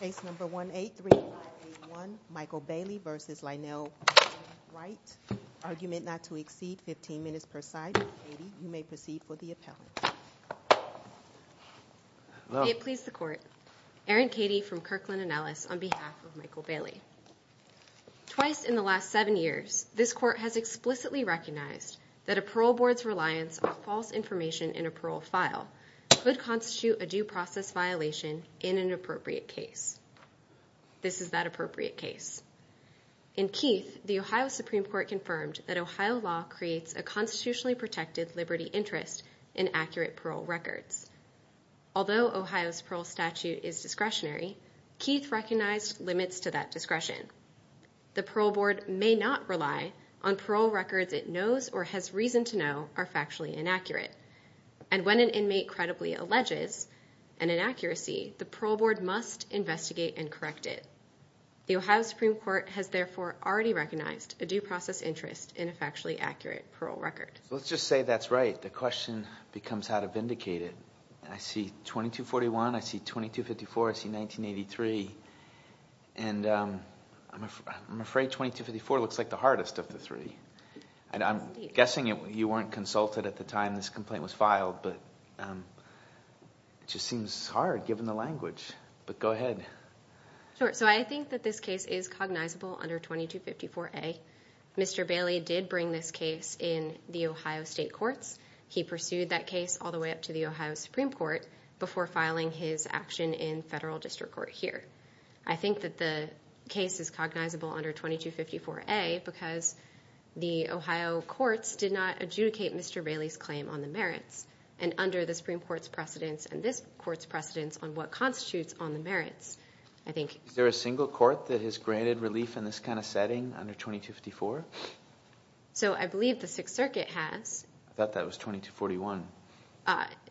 Case number 183581, Michael Bailey v. Lyneal Wainwright Argument not to exceed 15 minutes per side. Katie, you may proceed for the appellate. May it please the Court, Erin Katie from Kirkland & Ellis on behalf of Michael Bailey. Twice in the last seven years, this Court has explicitly recognized that a parole board's reliance on false information in a parole file could constitute a due process violation in an appropriate case. This is that appropriate case. In Keith, the Ohio Supreme Court confirmed that Ohio law creates a constitutionally protected liberty interest in accurate parole records. Although Ohio's parole statute is discretionary, Keith recognized limits to that discretion. The parole board may not rely on parole records it knows or has reason to know are factually inaccurate. And when an inmate credibly alleges an inaccuracy, the parole board must investigate and correct it. The Ohio Supreme Court has therefore already recognized a due process interest in a factually accurate parole record. Let's just say that's right. The question becomes how to vindicate it. I see 2241, I see 2254, I see 1983, and I'm afraid 2254 looks like the hardest of the three. I'm guessing you weren't consulted at the time this complaint was filed, but it just seems hard given the language. But go ahead. So I think that this case is cognizable under 2254A. Mr. Bailey did bring this case in the Ohio State Courts. He pursued that case all the way up to the Ohio Supreme Court before filing his action in federal district court here. I think that the case is cognizable under 2254A because the Ohio courts did not adjudicate Mr. Bailey's claim on the merits. And under the Supreme Court's precedence and this court's precedence on what constitutes on the merits, I think... Is there a single court that has granted relief in this kind of setting under 2254? So I believe the Sixth Circuit has. I thought that was 2241.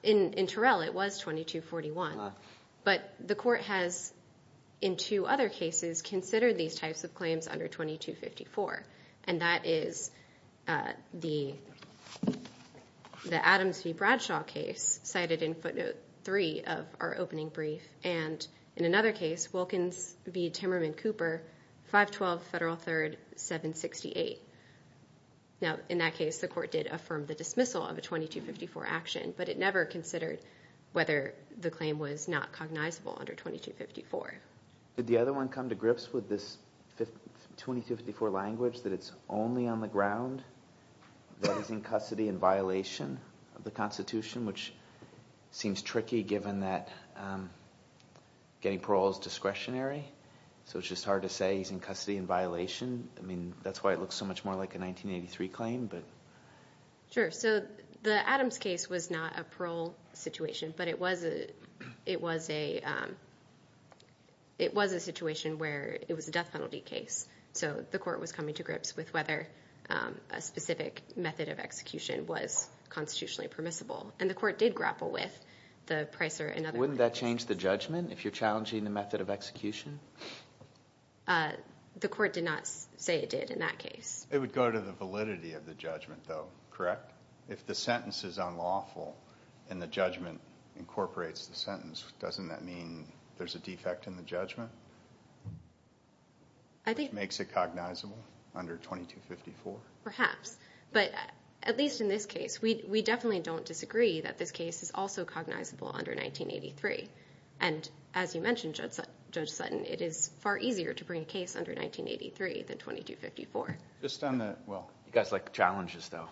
In Terrell, it was 2241. But the court has, in two other cases, considered these types of claims under 2254. And that is the Adams v. Bradshaw case cited in footnote 3 of our opening brief, and in another case, Wilkins v. Timmerman Cooper, 512 Federal 3rd 768. Now, in that case, the court did affirm the dismissal of a 2254 action, but it never considered whether the claim was not cognizable under 2254. Did the other one come to grips with this 2254 language that it's only on the ground that he's in custody in violation of the Constitution, which seems tricky given that getting parole is discretionary. So it's just hard to say he's in custody in violation. I mean, that's why it looks so much more like a 1983 claim, but... Sure. So the Adams case was not a parole situation, but it was a situation where it was a death penalty case. So the court was coming to grips with whether a specific method of execution was constitutionally permissible. And the court did grapple with the Pricer and other... Wouldn't that change the judgment if you're challenging the method of execution? The court did not say it did in that case. It would go to the validity of the judgment, though, correct? If the sentence is unlawful and the judgment incorporates the sentence, doesn't that mean there's a defect in the judgment? I think... Which makes it cognizable under 2254? Perhaps. But at least in this case, we definitely don't disagree that this case is also cognizable under 1983. And as you mentioned, Judge Sutton, it is far easier to bring a case under 1983 than 2254. You guys like challenges, though.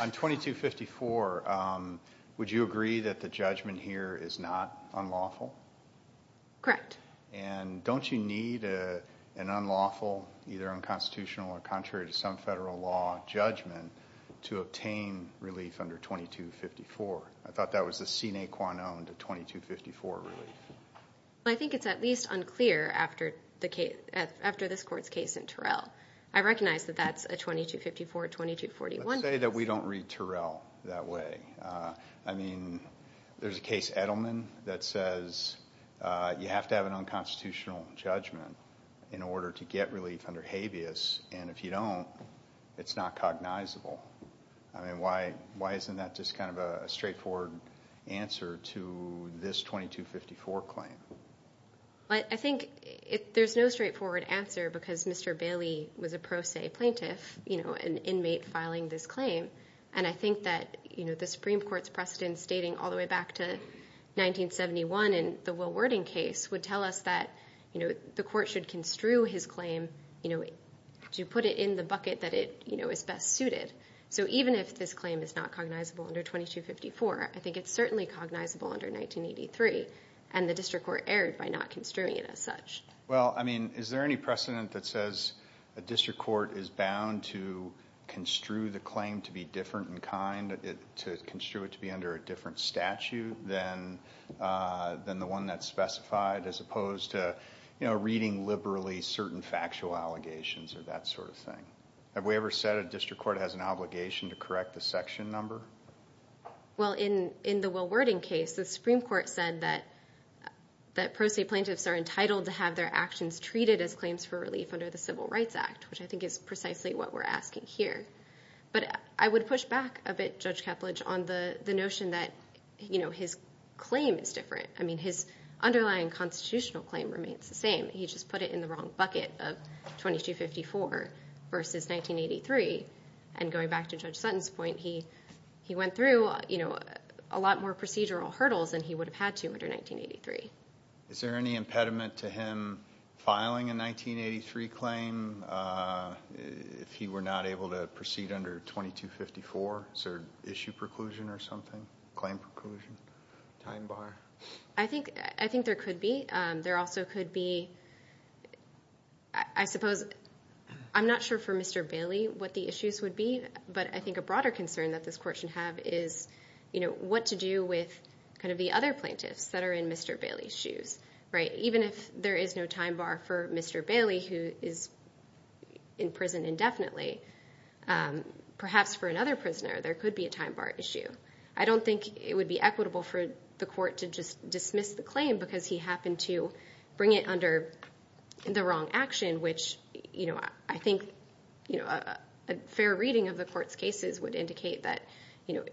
On 2254, would you agree that the judgment here is not unlawful? Correct. And don't you need an unlawful, either unconstitutional or contrary to some federal law, judgment to obtain relief under 2254? I thought that was the sine qua non to 2254 relief. I think it's at least unclear after this court's case in Terrell. I recognize that that's a 2254, 2241 case. Let's say that we don't read Terrell that way. I mean, there's a case, Edelman, that says you have to have an unconstitutional judgment in order to get relief under habeas. And if you don't, it's not cognizable. I mean, why isn't that just kind of a straightforward answer to this 2254 claim? I think there's no straightforward answer because Mr. Bailey was a pro se plaintiff, an inmate filing this claim. And I think that the Supreme Court's precedents dating all the way back to 1971 in the Will Wording case would tell us that the court should construe his claim to put it in the bucket that it is best suited. So even if this claim is not cognizable under 2254, I think it's certainly cognizable under 1983. And the district court erred by not construing it as such. Well, I mean, is there any precedent that says a district court is bound to construe the claim to be different in kind, to construe it to be under a different statute than the one that's specified, as opposed to reading liberally certain factual allegations or that sort of thing? Have we ever said a district court has an obligation to correct the section number? Well, in the Will Wording case, the Supreme Court said that pro se plaintiffs are entitled to have their actions treated as claims for relief under the Civil Rights Act, which I think is precisely what we're asking here. But I would push back a bit, Judge Kepledge, on the notion that his claim is different. I mean, his underlying constitutional claim remains the same. He just put it in the wrong bucket of 2254 versus 1983. And going back to Judge Sutton's point, he went through a lot more procedural hurdles than he would have had to under 1983. Is there any impediment to him filing a 1983 claim if he were not able to proceed under 2254? Is there issue preclusion or something, claim preclusion, time bar? I think there could be. There also could be, I suppose, I'm not sure for Mr. Bailey what the issues would be, but I think a broader concern that this court should have is what to do with kind of the other plaintiffs that are in Mr. Bailey's shoes. Even if there is no time bar for Mr. Bailey, who is in prison indefinitely, perhaps for another prisoner there could be a time bar issue. I don't think it would be equitable for the court to just dismiss the claim because he happened to bring it under the wrong action, which I think a fair reading of the court's cases would indicate that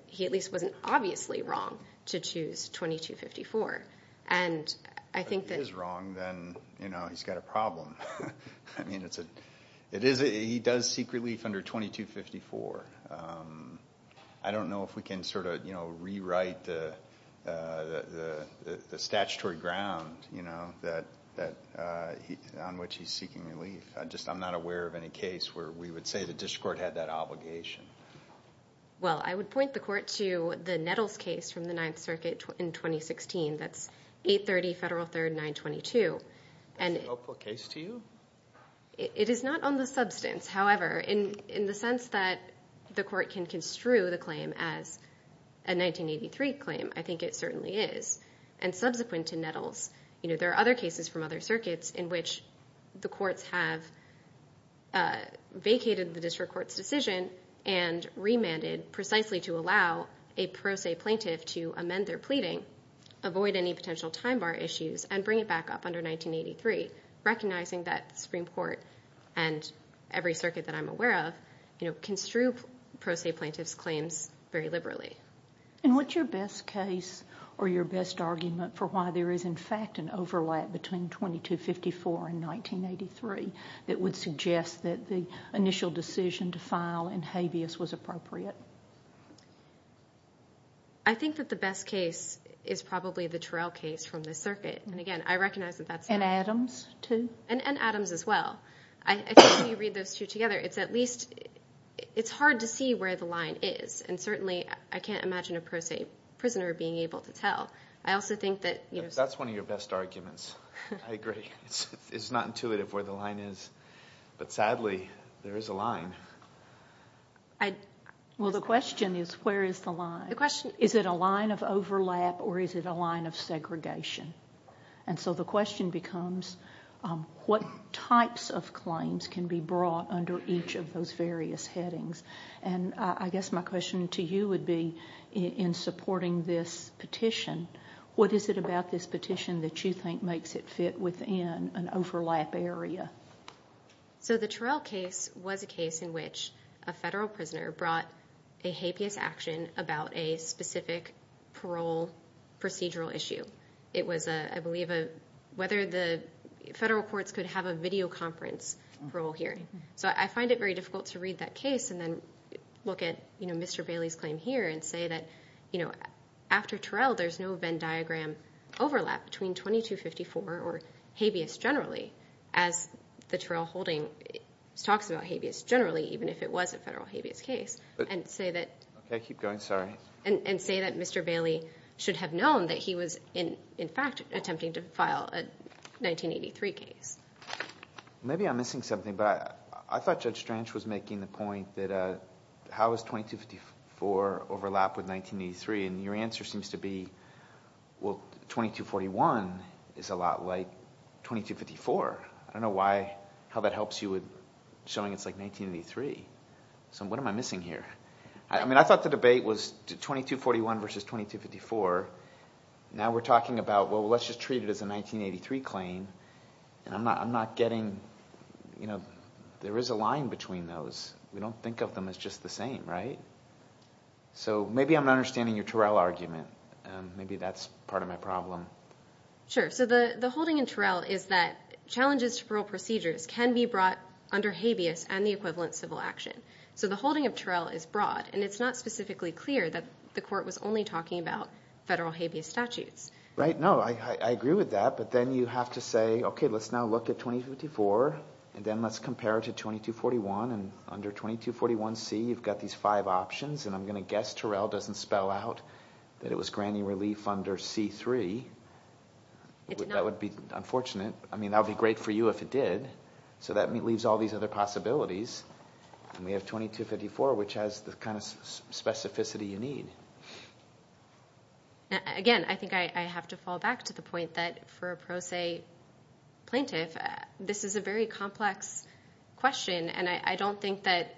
he at least wasn't obviously wrong to choose 2254. If he is wrong, then he's got a problem. I mean, he does seek relief under 2254. I don't know if we can sort of rewrite the statutory ground on which he's seeking relief. I'm just not aware of any case where we would say the district court had that obligation. Well, I would point the court to the Nettles case from the Ninth Circuit in 2016. That's 830 Federal 3rd 922. Is that a helpful case to you? It is not on the substance, however. In the sense that the court can construe the claim as a 1983 claim, I think it certainly is. And subsequent to Nettles, there are other cases from other circuits in which the courts have vacated the district court's decision and remanded precisely to allow a pro se plaintiff to amend their pleading, avoid any potential time bar issues, and bring it back up under 1983, recognizing that the Supreme Court and every circuit that I'm aware of construe pro se plaintiffs' claims very liberally. And what's your best case or your best argument for why there is, in fact, an overlap between 2254 and 1983 that would suggest that the initial decision to file in habeas was appropriate? I think that the best case is probably the Terrell case from the circuit. And again, I recognize that that's not... And Adams too? And Adams as well. I think when you read those two together, it's at least, it's hard to see where the line is. And certainly, I can't imagine a pro se prisoner being able to tell. I also think that... That's one of your best arguments. I agree. It's not intuitive where the line is. But sadly, there is a line. Well, the question is, where is the line? Is it a line of overlap or is it a line of segregation? And so the question becomes, what types of claims can be brought under each of those various headings? And I guess my question to you would be, in supporting this petition, what is it about this petition that you think makes it fit within an overlap area? So the Terrell case was a case in which a federal prisoner brought a habeas action about a specific parole procedural issue. It was, I believe, whether the federal courts could have a video conference parole hearing. So I find it very difficult to read that case and then look at Mr. Bailey's claim here and say that after Terrell, there's no Venn diagram overlap between 2254 or habeas generally, as the Terrell holding talks about habeas generally, even if it was a federal habeas case, and say that Mr. Bailey should have known that he was, in fact, attempting to file a 1983 case. Maybe I'm missing something, but I thought Judge Stranch was making the point that how does 2254 overlap with 1983? And your answer seems to be, well, 2241 is a lot like 2254. I don't know why – how that helps you with showing it's like 1983. So what am I missing here? I mean I thought the debate was 2241 versus 2254. Now we're talking about, well, let's just treat it as a 1983 claim. I'm not getting – there is a line between those. We don't think of them as just the same, right? So maybe I'm not understanding your Terrell argument. Maybe that's part of my problem. Sure. So the holding in Terrell is that challenges to parole procedures can be brought under habeas and the equivalent civil action. So the holding of Terrell is broad, and it's not specifically clear that the court was only talking about federal habeas statutes. Right. No, I agree with that. But then you have to say, okay, let's now look at 2254, and then let's compare it to 2241. And under 2241C, you've got these five options, and I'm going to guess Terrell doesn't spell out that it was granny relief under C3. That would be unfortunate. I mean that would be great for you if it did. So that leaves all these other possibilities, and we have 2254, which has the kind of specificity you need. Again, I think I have to fall back to the point that for a pro se plaintiff, this is a very complex question, and I don't think that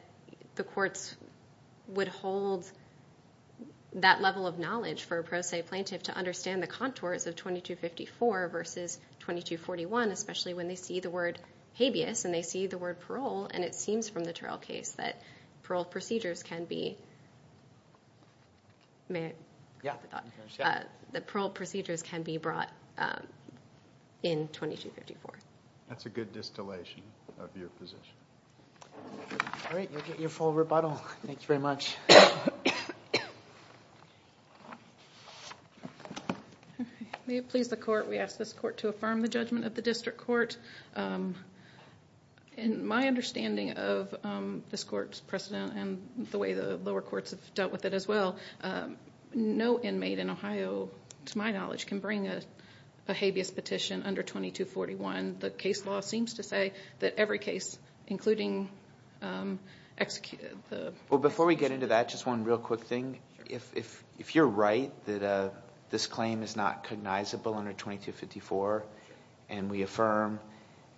the courts would hold that level of knowledge for a pro se plaintiff to understand the contours of 2254 versus 2241, especially when they see the word habeas and they see the word parole, and it seems from the Terrell case that parole procedures can be brought in 2254. That's a good distillation of your position. All right. You'll get your full rebuttal. May it please the court. We ask this court to affirm the judgment of the district court. In my understanding of this court's precedent and the way the lower courts have dealt with it as well, no inmate in Ohio, to my knowledge, can bring a habeas petition under 2241. The case law seems to say that every case, including the execution. Well, before we get into that, just one real quick thing. If you're right that this claim is not cognizable under 2254 and we affirm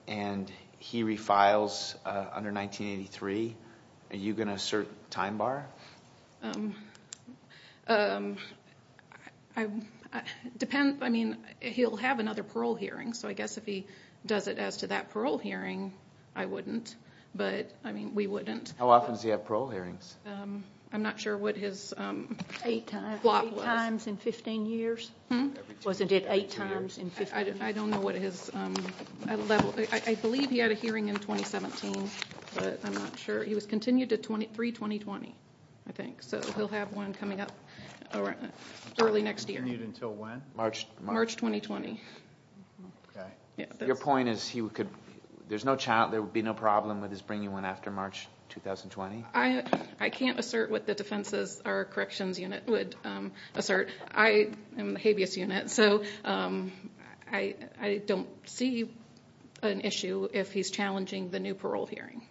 and he refiles under 1983, are you going to assert time bar? He'll have another parole hearing, so I guess if he does it as to that parole hearing, I wouldn't, but we wouldn't. How often does he have parole hearings? I'm not sure what his block was. Eight times in 15 years? Wasn't it eight times in 15 years? I don't know what his level. I believe he had a hearing in 2017, but I'm not sure. He was continued to 3-2020, I think, so he'll have one coming up early next year. Continued until when? March 2020. Your point is there would be no problem with his bringing one after March 2020? I can't assert what the defenses or corrections unit would assert. I am in the habeas unit, so I don't see an issue if he's challenging the new parole hearing.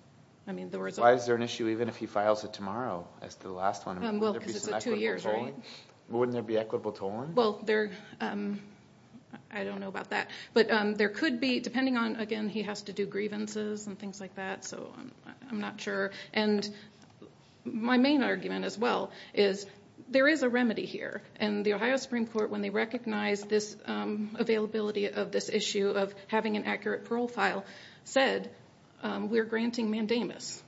Why is there an issue even if he files it tomorrow as to the last one? Because it's a two-year hearing. Wouldn't there be equitable tolling? I don't know about that. There could be, depending on, again, he has to do grievances and things like that, so I'm not sure. My main argument, as well, is there is a remedy here. The Ohio Supreme Court, when they recognized this availability of this issue of having an accurate parole file, said we're granting mandamus.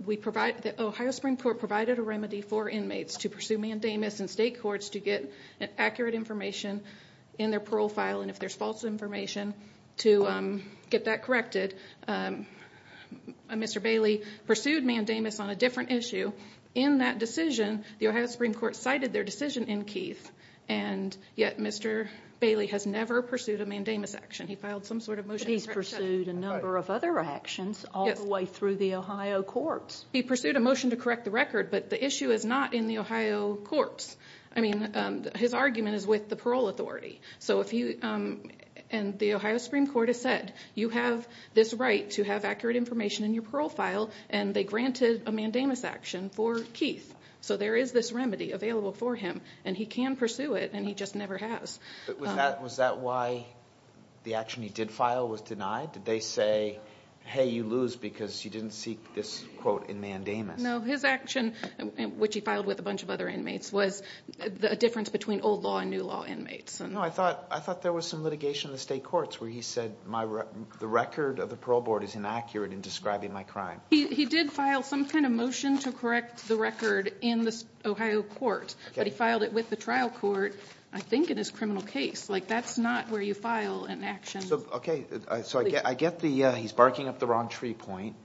The Ohio Supreme Court provided a remedy for inmates to pursue mandamus in state courts to get accurate information in their parole file, and if there's false information, to get that corrected. Mr. Bailey pursued mandamus on a different issue. In that decision, the Ohio Supreme Court cited their decision in Keith, and yet Mr. Bailey has never pursued a mandamus action. He filed some sort of motion. But he's pursued a number of other actions all the way through the Ohio courts. He pursued a motion to correct the record, but the issue is not in the Ohio courts. His argument is with the parole authority. The Ohio Supreme Court has said you have this right to have accurate information in your parole file, and they granted a mandamus action for Keith. So there is this remedy available for him, and he can pursue it, and he just never has. Was that why the action he did file was denied? Did they say, hey, you lose because you didn't seek this quote in mandamus? No, his action, which he filed with a bunch of other inmates, was a difference between old law and new law inmates. No, I thought there was some litigation in the state courts where he said the record of the parole board is inaccurate in describing my crime. He did file some kind of motion to correct the record in the Ohio courts, but he filed it with the trial court, I think in his criminal case. Like that's not where you file an action. Okay. So I get he's barking up the wrong tree point,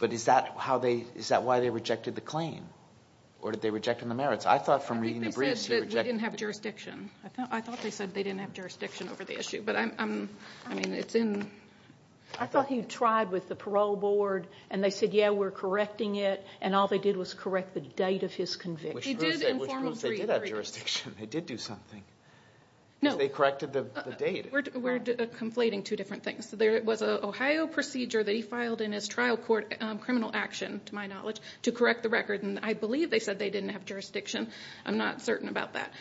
but is that why they rejected the claim? Or did they reject him in the merits? I thought from reading the briefs he rejected the claim. I think they said that we didn't have jurisdiction. I thought they said they didn't have jurisdiction over the issue, but I'm, I mean, it's in. I thought he tried with the parole board, and they said, yeah, we're correcting it, and all they did was correct the date of his conviction. Which proves they did have jurisdiction. They did do something. No. Because they corrected the date. We're conflating two different things. There was an Ohio procedure that he filed in his trial court criminal action, to my knowledge, to correct the record, and I believe they said they didn't have jurisdiction. I'm not certain about that,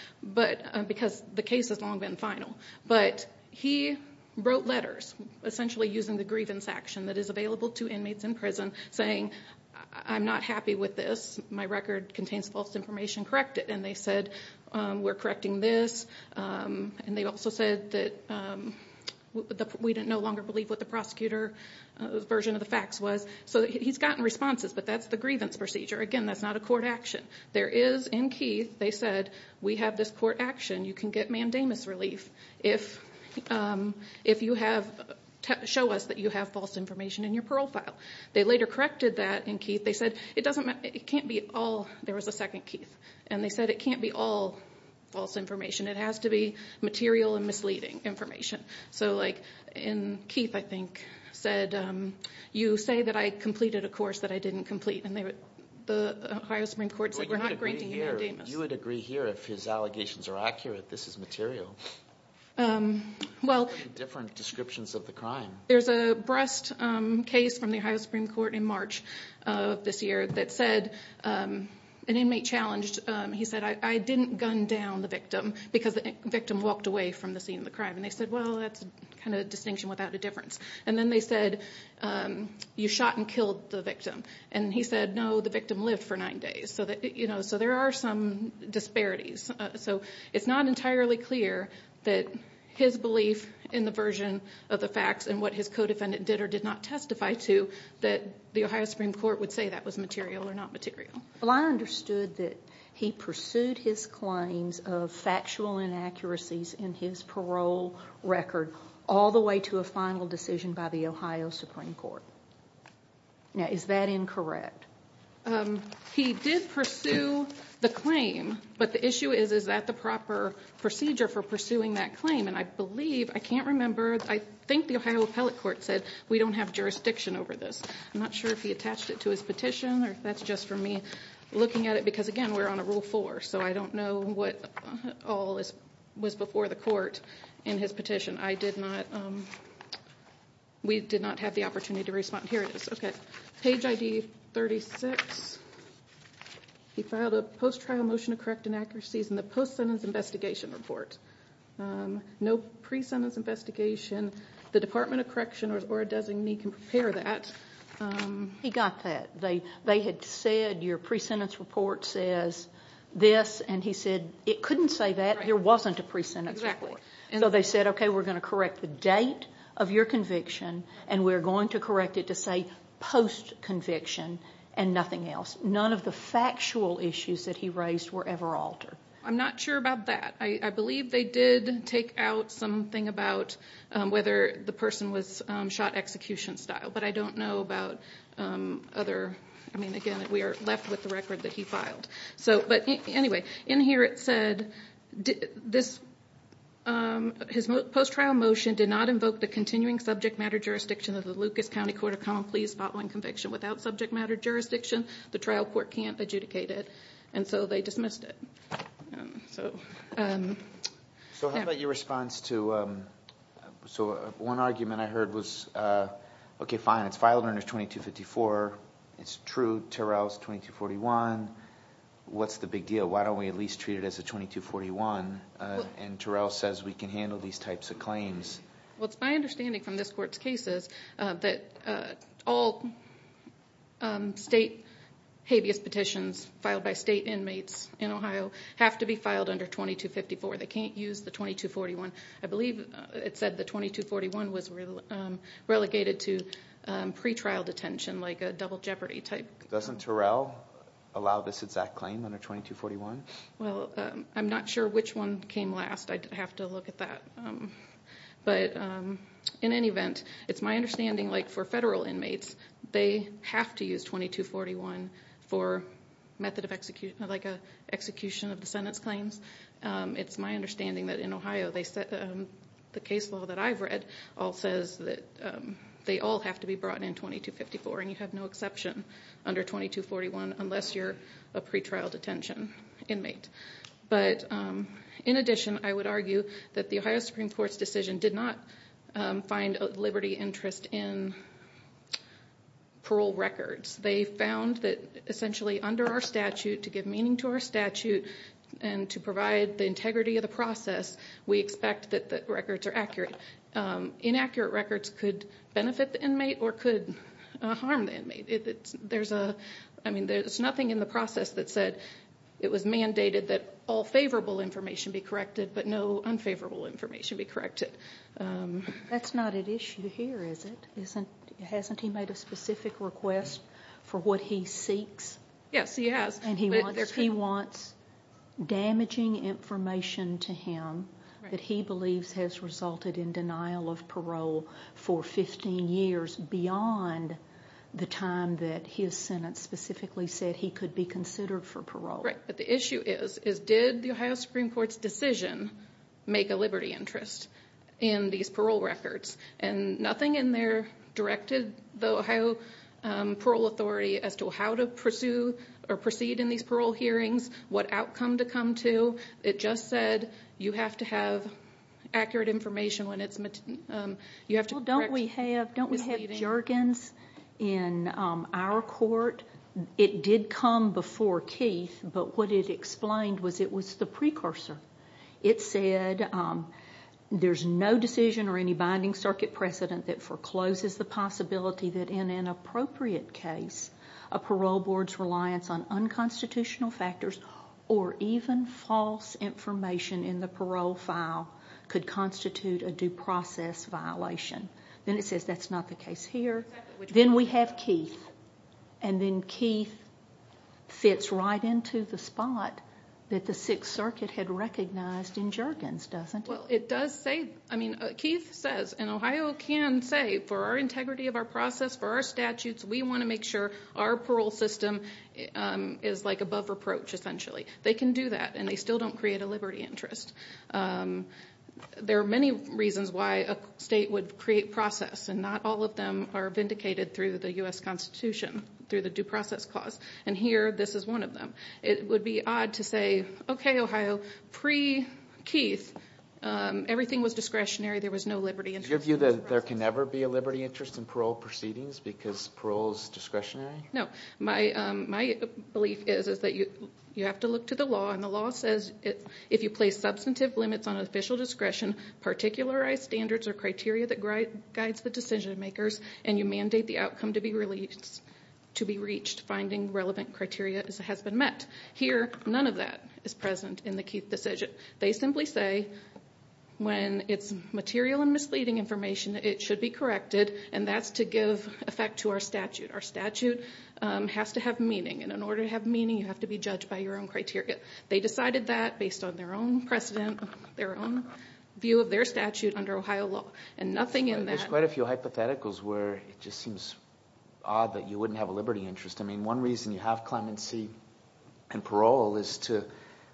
because the case has long been final. But he wrote letters, essentially using the grievance action that is available to inmates in prison, saying, I'm not happy with this. My record contains false information. Correct it. And they said, we're correcting this. And they also said that we no longer believe what the prosecutor's version of the facts was. So he's gotten responses, but that's the grievance procedure. Again, that's not a court action. There is, in Keith, they said, we have this court action. You can get mandamus relief if you have, show us that you have false information in your parole file. They later corrected that in Keith. They said, it can't be all. There was a second Keith. And they said, it can't be all false information. It has to be material and misleading information. So like in Keith, I think, said, you say that I completed a course that I didn't complete. And the Ohio Supreme Court said, we're not granting you a mandamus. You would agree here if his allegations are accurate, this is material. Well. Different descriptions of the crime. There's a breast case from the Ohio Supreme Court in March of this year that said, an inmate challenged, he said, I didn't gun down the victim because the victim walked away from the scene of the crime. And they said, well, that's kind of a distinction without a difference. And then they said, you shot and killed the victim. And he said, no, the victim lived for nine days. So there are some disparities. So it's not entirely clear that his belief in the version of the facts and what his co-defendant did or did not testify to, that the Ohio Supreme Court would say that was material or not material. Well, I understood that he pursued his claims of factual inaccuracies in his parole record, all the way to a final decision by the Ohio Supreme Court. Now, is that incorrect? He did pursue the claim. But the issue is, is that the proper procedure for pursuing that claim? And I believe, I can't remember, I think the Ohio Appellate Court said, we don't have jurisdiction over this. I'm not sure if he attached it to his petition or if that's just from me looking at it. Because, again, we're on a Rule 4, so I don't know what all was before the court in his petition. I did not, we did not have the opportunity to respond. Here it is. Okay. Page ID 36. He filed a post-trial motion to correct inaccuracies in the post-sentence investigation report. No pre-sentence investigation. The Department of Correction or a designee can prepare that. He got that. They had said, your pre-sentence report says this. And he said, it couldn't say that. There wasn't a pre-sentence report. Exactly. So they said, okay, we're going to correct the date of your conviction, and we're going to correct it to say post-conviction and nothing else. None of the factual issues that he raised were ever altered. I'm not sure about that. I believe they did take out something about whether the person was shot execution style. But I don't know about other, I mean, again, we are left with the record that he filed. Anyway, in here it said, his post-trial motion did not invoke the continuing subject matter jurisdiction of the Lucas County Court of Common Pleas following conviction without subject matter jurisdiction. The trial court can't adjudicate it. And so they dismissed it. So how about your response to, so one argument I heard was, okay, fine, it's filed under 2254. It's true, Terrell's 2241. What's the big deal? Why don't we at least treat it as a 2241? And Terrell says we can handle these types of claims. Well, it's my understanding from this court's cases that all state habeas petitions filed by state inmates in Ohio have to be filed under 2254. They can't use the 2241. I believe it said the 2241 was relegated to pretrial detention, like a double jeopardy type. Doesn't Terrell allow this exact claim under 2241? Well, I'm not sure which one came last. I'd have to look at that. But in any event, it's my understanding, like for federal inmates, they have to use 2241 for method of execution, like an execution of the sentence claims. It's my understanding that in Ohio, the case law that I've read all says that they all have to be brought in 2254, and you have no exception under 2241 unless you're a pretrial detention inmate. But in addition, I would argue that the Ohio Supreme Court's decision did not find liberty interest in parole records. They found that, essentially, under our statute, to give meaning to our statute and to provide the integrity of the process, we expect that the records are accurate. Inaccurate records could benefit the inmate or could harm the inmate. There's nothing in the process that said it was mandated that all favorable information be corrected but no unfavorable information be corrected. That's not an issue here, is it? Hasn't he made a specific request for what he seeks? Yes, he has. He wants damaging information to him that he believes has resulted in denial of parole for 15 years beyond the time that his sentence specifically said he could be considered for parole. Right, but the issue is did the Ohio Supreme Court's decision make a liberty interest in these parole records? Nothing in there directed the Ohio Parole Authority as to how to pursue or proceed in these parole hearings, what outcome to come to. It just said you have to have accurate information. Don't we have jargons in our court? It did come before Keith, but what it explained was it was the precursor. It said there's no decision or any binding circuit precedent that forecloses the possibility that in an appropriate case a parole board's reliance on unconstitutional factors or even false information in the parole file could constitute a due process violation. Then it says that's not the case here. Then we have Keith, and then Keith fits right into the spot that the Sixth Circuit had recognized in jargons, doesn't it? Keith says, and Ohio can say, for our integrity of our process, for our statutes, we want to make sure our parole system is above reproach, essentially. They can do that, and they still don't create a liberty interest. There are many reasons why a state would create process, and not all of them are vindicated through the U.S. Constitution, through the due process clause. Here, this is one of them. It would be odd to say, okay, Ohio, pre-Keith, everything was discretionary. There was no liberty interest. Is your view that there can never be a liberty interest in parole proceedings because parole is discretionary? No. My belief is that you have to look to the law, and the law says if you place substantive limits on official discretion, particularize standards or criteria that guides the decision makers, and you mandate the outcome to be reached, finding relevant criteria has been met. Here, none of that is present in the Keith decision. They simply say when it's material and misleading information, it should be corrected, and that's to give effect to our statute. Our statute has to have meaning, and in order to have meaning, you have to be judged by your own criteria. They decided that based on their own precedent, their own view of their statute under Ohio law, and nothing in that. There's quite a few hypotheticals where it just seems odd that you wouldn't have a liberty interest. I mean, one reason you have clemency in parole is to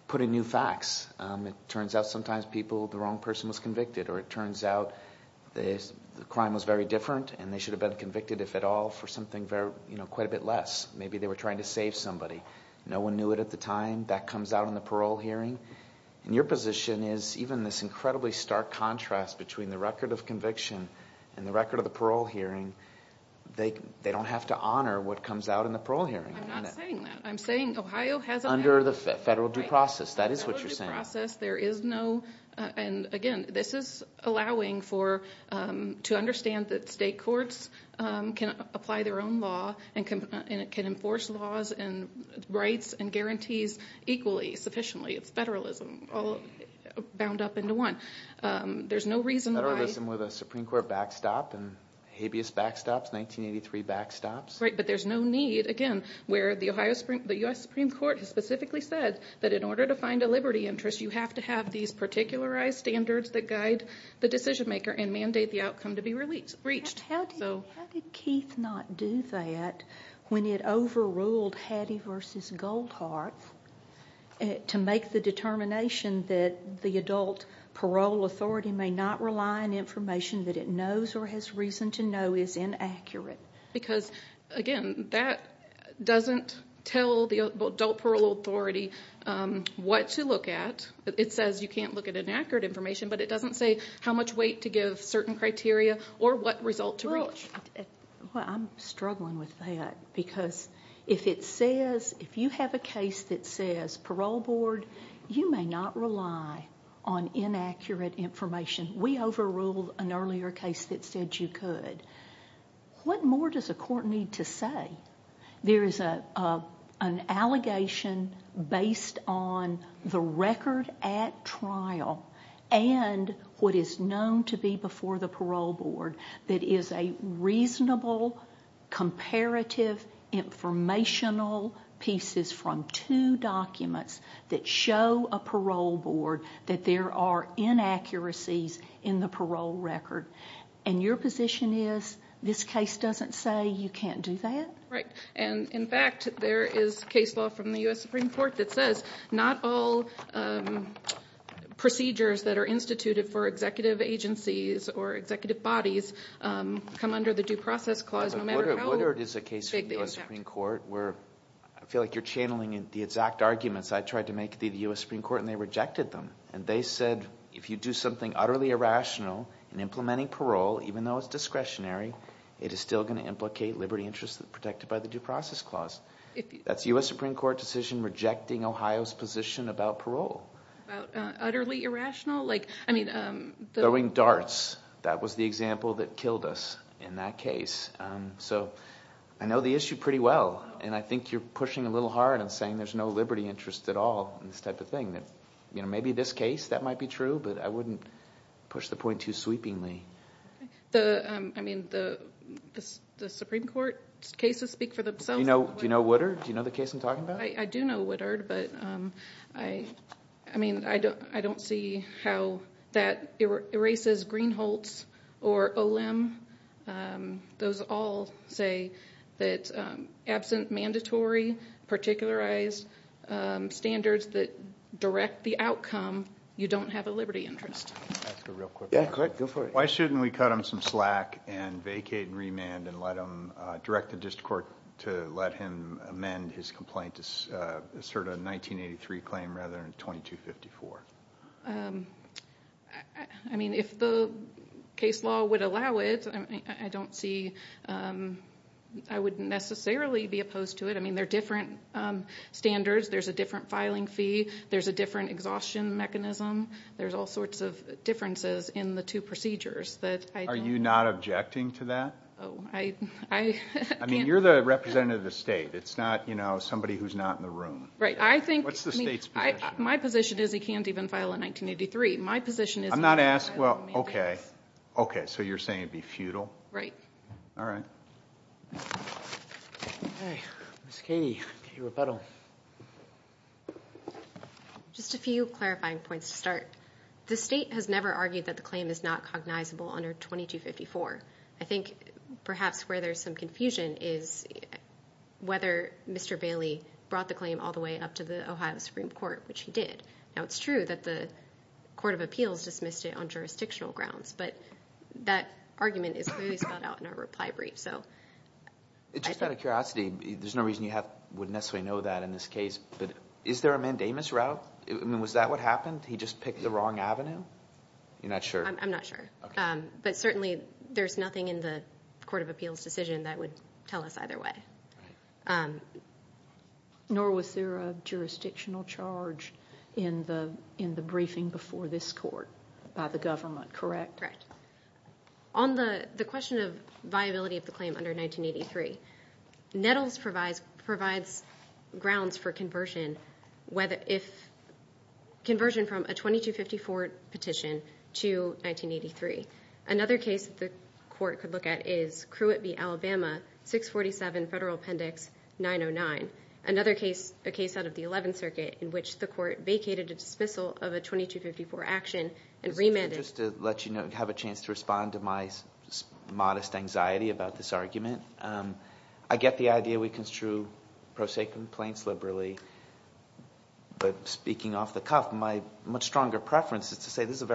put in new facts. It turns out sometimes people, the wrong person was convicted, or it turns out the crime was very different, and they should have been convicted, if at all, for something quite a bit less. Maybe they were trying to save somebody. No one knew it at the time. That comes out in the parole hearing. And your position is even this incredibly stark contrast between the record of conviction and the record of the parole hearing, they don't have to honor what comes out in the parole hearing. I'm not saying that. I'm saying Ohio has a— Under the federal due process. That is what you're saying. Under the federal due process, there is no— and again, this is allowing for—to understand that state courts can apply their own law and can enforce laws and rights and guarantees equally, sufficiently. It's federalism all bound up into one. There's no reason why— Federalism with a Supreme Court backstop and habeas backstops, 1983 backstops. Right, but there's no need, again, where the U.S. Supreme Court has specifically said that in order to find a liberty interest, you have to have these particularized standards that guide the decision maker and mandate the outcome to be reached. How did Keith not do that when it overruled Hattie v. Goldhart to make the determination that the adult parole authority may not rely on information that it knows or has reason to know is inaccurate? Because, again, that doesn't tell the adult parole authority what to look at. It says you can't look at inaccurate information, but it doesn't say how much weight to give certain criteria or what result to reach. Well, I'm struggling with that because if it says— if you have a case that says parole board, you may not rely on inaccurate information. We overruled an earlier case that said you could. What more does a court need to say? There is an allegation based on the record at trial and what is known to be before the parole board that is a reasonable, comparative informational pieces from two documents that show a parole board that there are inaccuracies in the parole record. And your position is this case doesn't say you can't do that? Right. And, in fact, there is case law from the U.S. Supreme Court that says not all procedures that are instituted for executive agencies or executive bodies come under the due process clause no matter how big the impact. Woodard is a case from the U.S. Supreme Court where I feel like you're channeling the exact arguments. I tried to make the U.S. Supreme Court, and they rejected them. And they said if you do something utterly irrational in implementing parole, even though it's discretionary, it is still going to implicate liberty interests protected by the due process clause. That's a U.S. Supreme Court decision rejecting Ohio's position about parole. Utterly irrational? Throwing darts. That was the example that killed us in that case. So I know the issue pretty well, and I think you're pushing a little hard and saying there's no liberty interest at all in this type of thing. Maybe this case, that might be true, but I wouldn't push the point too sweepingly. The Supreme Court cases speak for themselves. Do you know Woodard? Do you know the case I'm talking about? I do know Woodard, but I don't see how that erases Greenholz or Olim. Those all say that absent mandatory, particularized standards that direct the outcome, you don't have a liberty interest. Go for it. Why shouldn't we cut him some slack and vacate and remand and direct the district court to let him amend his complaint to assert a 1983 claim rather than 2254? I mean, if the case law would allow it, I don't see, I wouldn't necessarily be opposed to it. I mean, there are different standards. There's a different filing fee. There's a different exhaustion mechanism. There's all sorts of differences in the two procedures. Are you not objecting to that? Oh, I can't. I mean, you're the representative of the state. It's not somebody who's not in the room. Right. What's the state's position? My position is he can't even file a 1983. My position is he can't even file a 1986. I'm not asking, well, okay. Okay, so you're saying it would be futile? Right. All right. Ms. Katie, Katie Rapetto. Just a few clarifying points to start. The state has never argued that the claim is not cognizable under 2254. I think perhaps where there's some confusion is whether Mr. Bailey brought the claim all the way up to the Ohio Supreme Court, which he did. Now, it's true that the Court of Appeals dismissed it on jurisdictional grounds, but that argument is clearly spelled out in our reply brief. Just out of curiosity, there's no reason you would necessarily know that in this case, but is there a mandamus route? I mean, was that what happened? He just picked the wrong avenue? You're not sure? I'm not sure. But certainly there's nothing in the Court of Appeals decision that would tell us either way. Nor was there a jurisdictional charge in the briefing before this court by the government, correct? Correct. On the question of viability of the claim under 1983, Nettles provides grounds for conversion from a 2254 petition to 1983. Another case that the court could look at is Crewetby, Alabama, 647 Federal Appendix 909, another case out of the 11th Circuit in which the court vacated a dismissal of a 2254 action and remanded. Just to let you have a chance to respond to my modest anxiety about this argument, I get the idea we construe pro se complaints liberally, but speaking off the cuff, my much stronger preference is to say this is a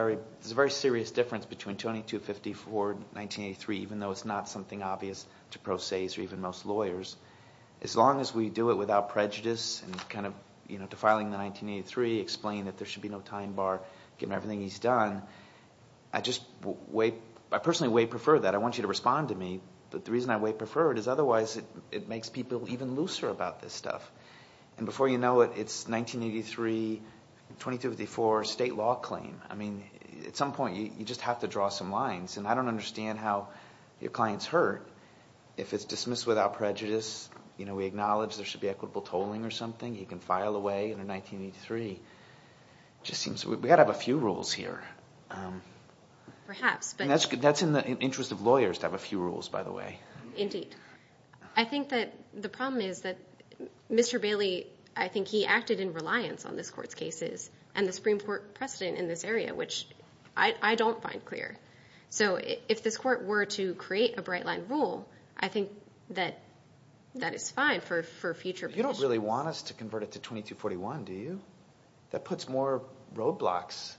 very serious difference between 2254 and 1983, even though it's not something obvious to pro ses or even most lawyers. As long as we do it without prejudice and kind of defiling the 1983, explaining that there should be no time bar given everything he's done, I personally way prefer that. I want you to respond to me. But the reason I way prefer it is otherwise it makes people even looser about this stuff. And before you know it, it's 1983, 2254, state law claim. I mean, at some point you just have to draw some lines, and I don't understand how your clients hurt if it's dismissed without prejudice. You know, we acknowledge there should be equitable tolling or something. He can file away in a 1983. It just seems we've got to have a few rules here. Perhaps. That's in the interest of lawyers to have a few rules, by the way. Indeed. I think that the problem is that Mr. Bailey, I think he acted in reliance on this court's cases and the Supreme Court precedent in this area, which I don't find clear. So if this court were to create a bright-line rule, I think that that is fine for future positions. You don't really want us to convert it to 2241, do you? That puts more roadblocks,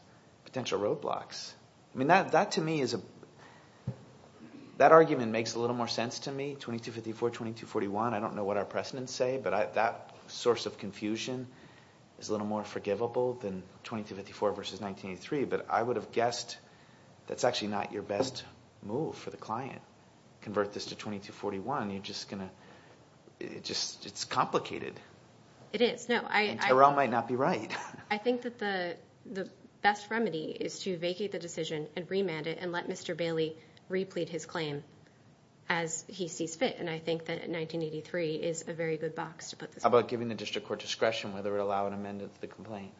potential roadblocks. I mean, that to me is a – that argument makes a little more sense to me, 2254, 2241. I don't know what our precedents say, but that source of confusion is a little more forgivable than 2254 versus 1983. But I would have guessed that's actually not your best move for the client, convert this to 2241. You're just going to – it's complicated. It is. Tyrell might not be right. I think that the best remedy is to vacate the decision and remand it and let Mr. Bailey replete his claim as he sees fit, and I think that 1983 is a very good box to put this in. How about giving the district court discretion whether it would allow an amendment to the complaint?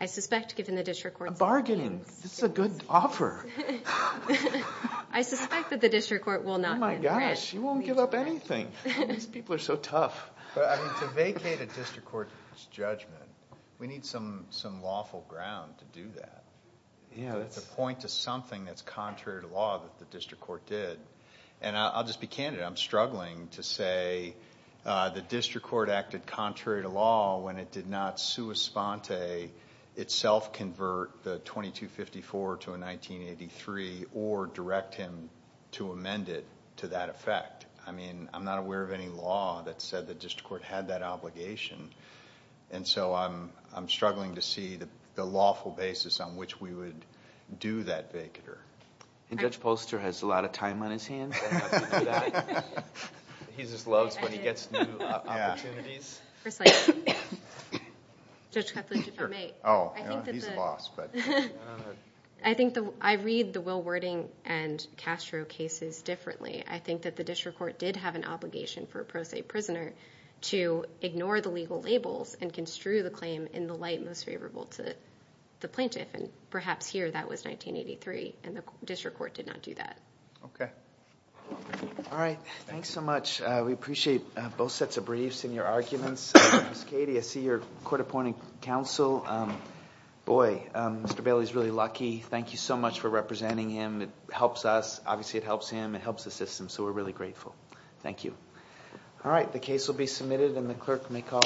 I suspect giving the district court discretion means – A bargaining. This is a good offer. I suspect that the district court will not – Oh, my gosh. You won't give up anything. These people are so tough. To vacate a district court's judgment, we need some lawful ground to do that, to point to something that's contrary to law that the district court did. And I'll just be candid. I'm struggling to say the district court acted contrary to law when it did not sua sponte itself convert the 2254 to a 1983 or direct him to amend it to that effect. I mean, I'm not aware of any law that said the district court had that obligation, and so I'm struggling to see the lawful basis on which we would do that vacater. And Judge Polster has a lot of time on his hands. He just loves when he gets new opportunities. Precisely. Judge Cuthbert, if I may. Oh, he's lost, but... I think I read the Will Wording and Castro cases differently. I think that the district court did have an obligation for a pro se prisoner to ignore the legal labels and construe the claim in the light most favorable to the plaintiff, and perhaps here that was 1983, and the district court did not do that. Okay. All right. Thanks so much. We appreciate both sets of briefs and your arguments. Ms. Cady, I see you're court appointing counsel. Boy, Mr. Bailey's really lucky. Thank you so much for representing him. It helps us. It helps our system, so we're really grateful. Thank you. All right. The case will be submitted, and the clerk may call.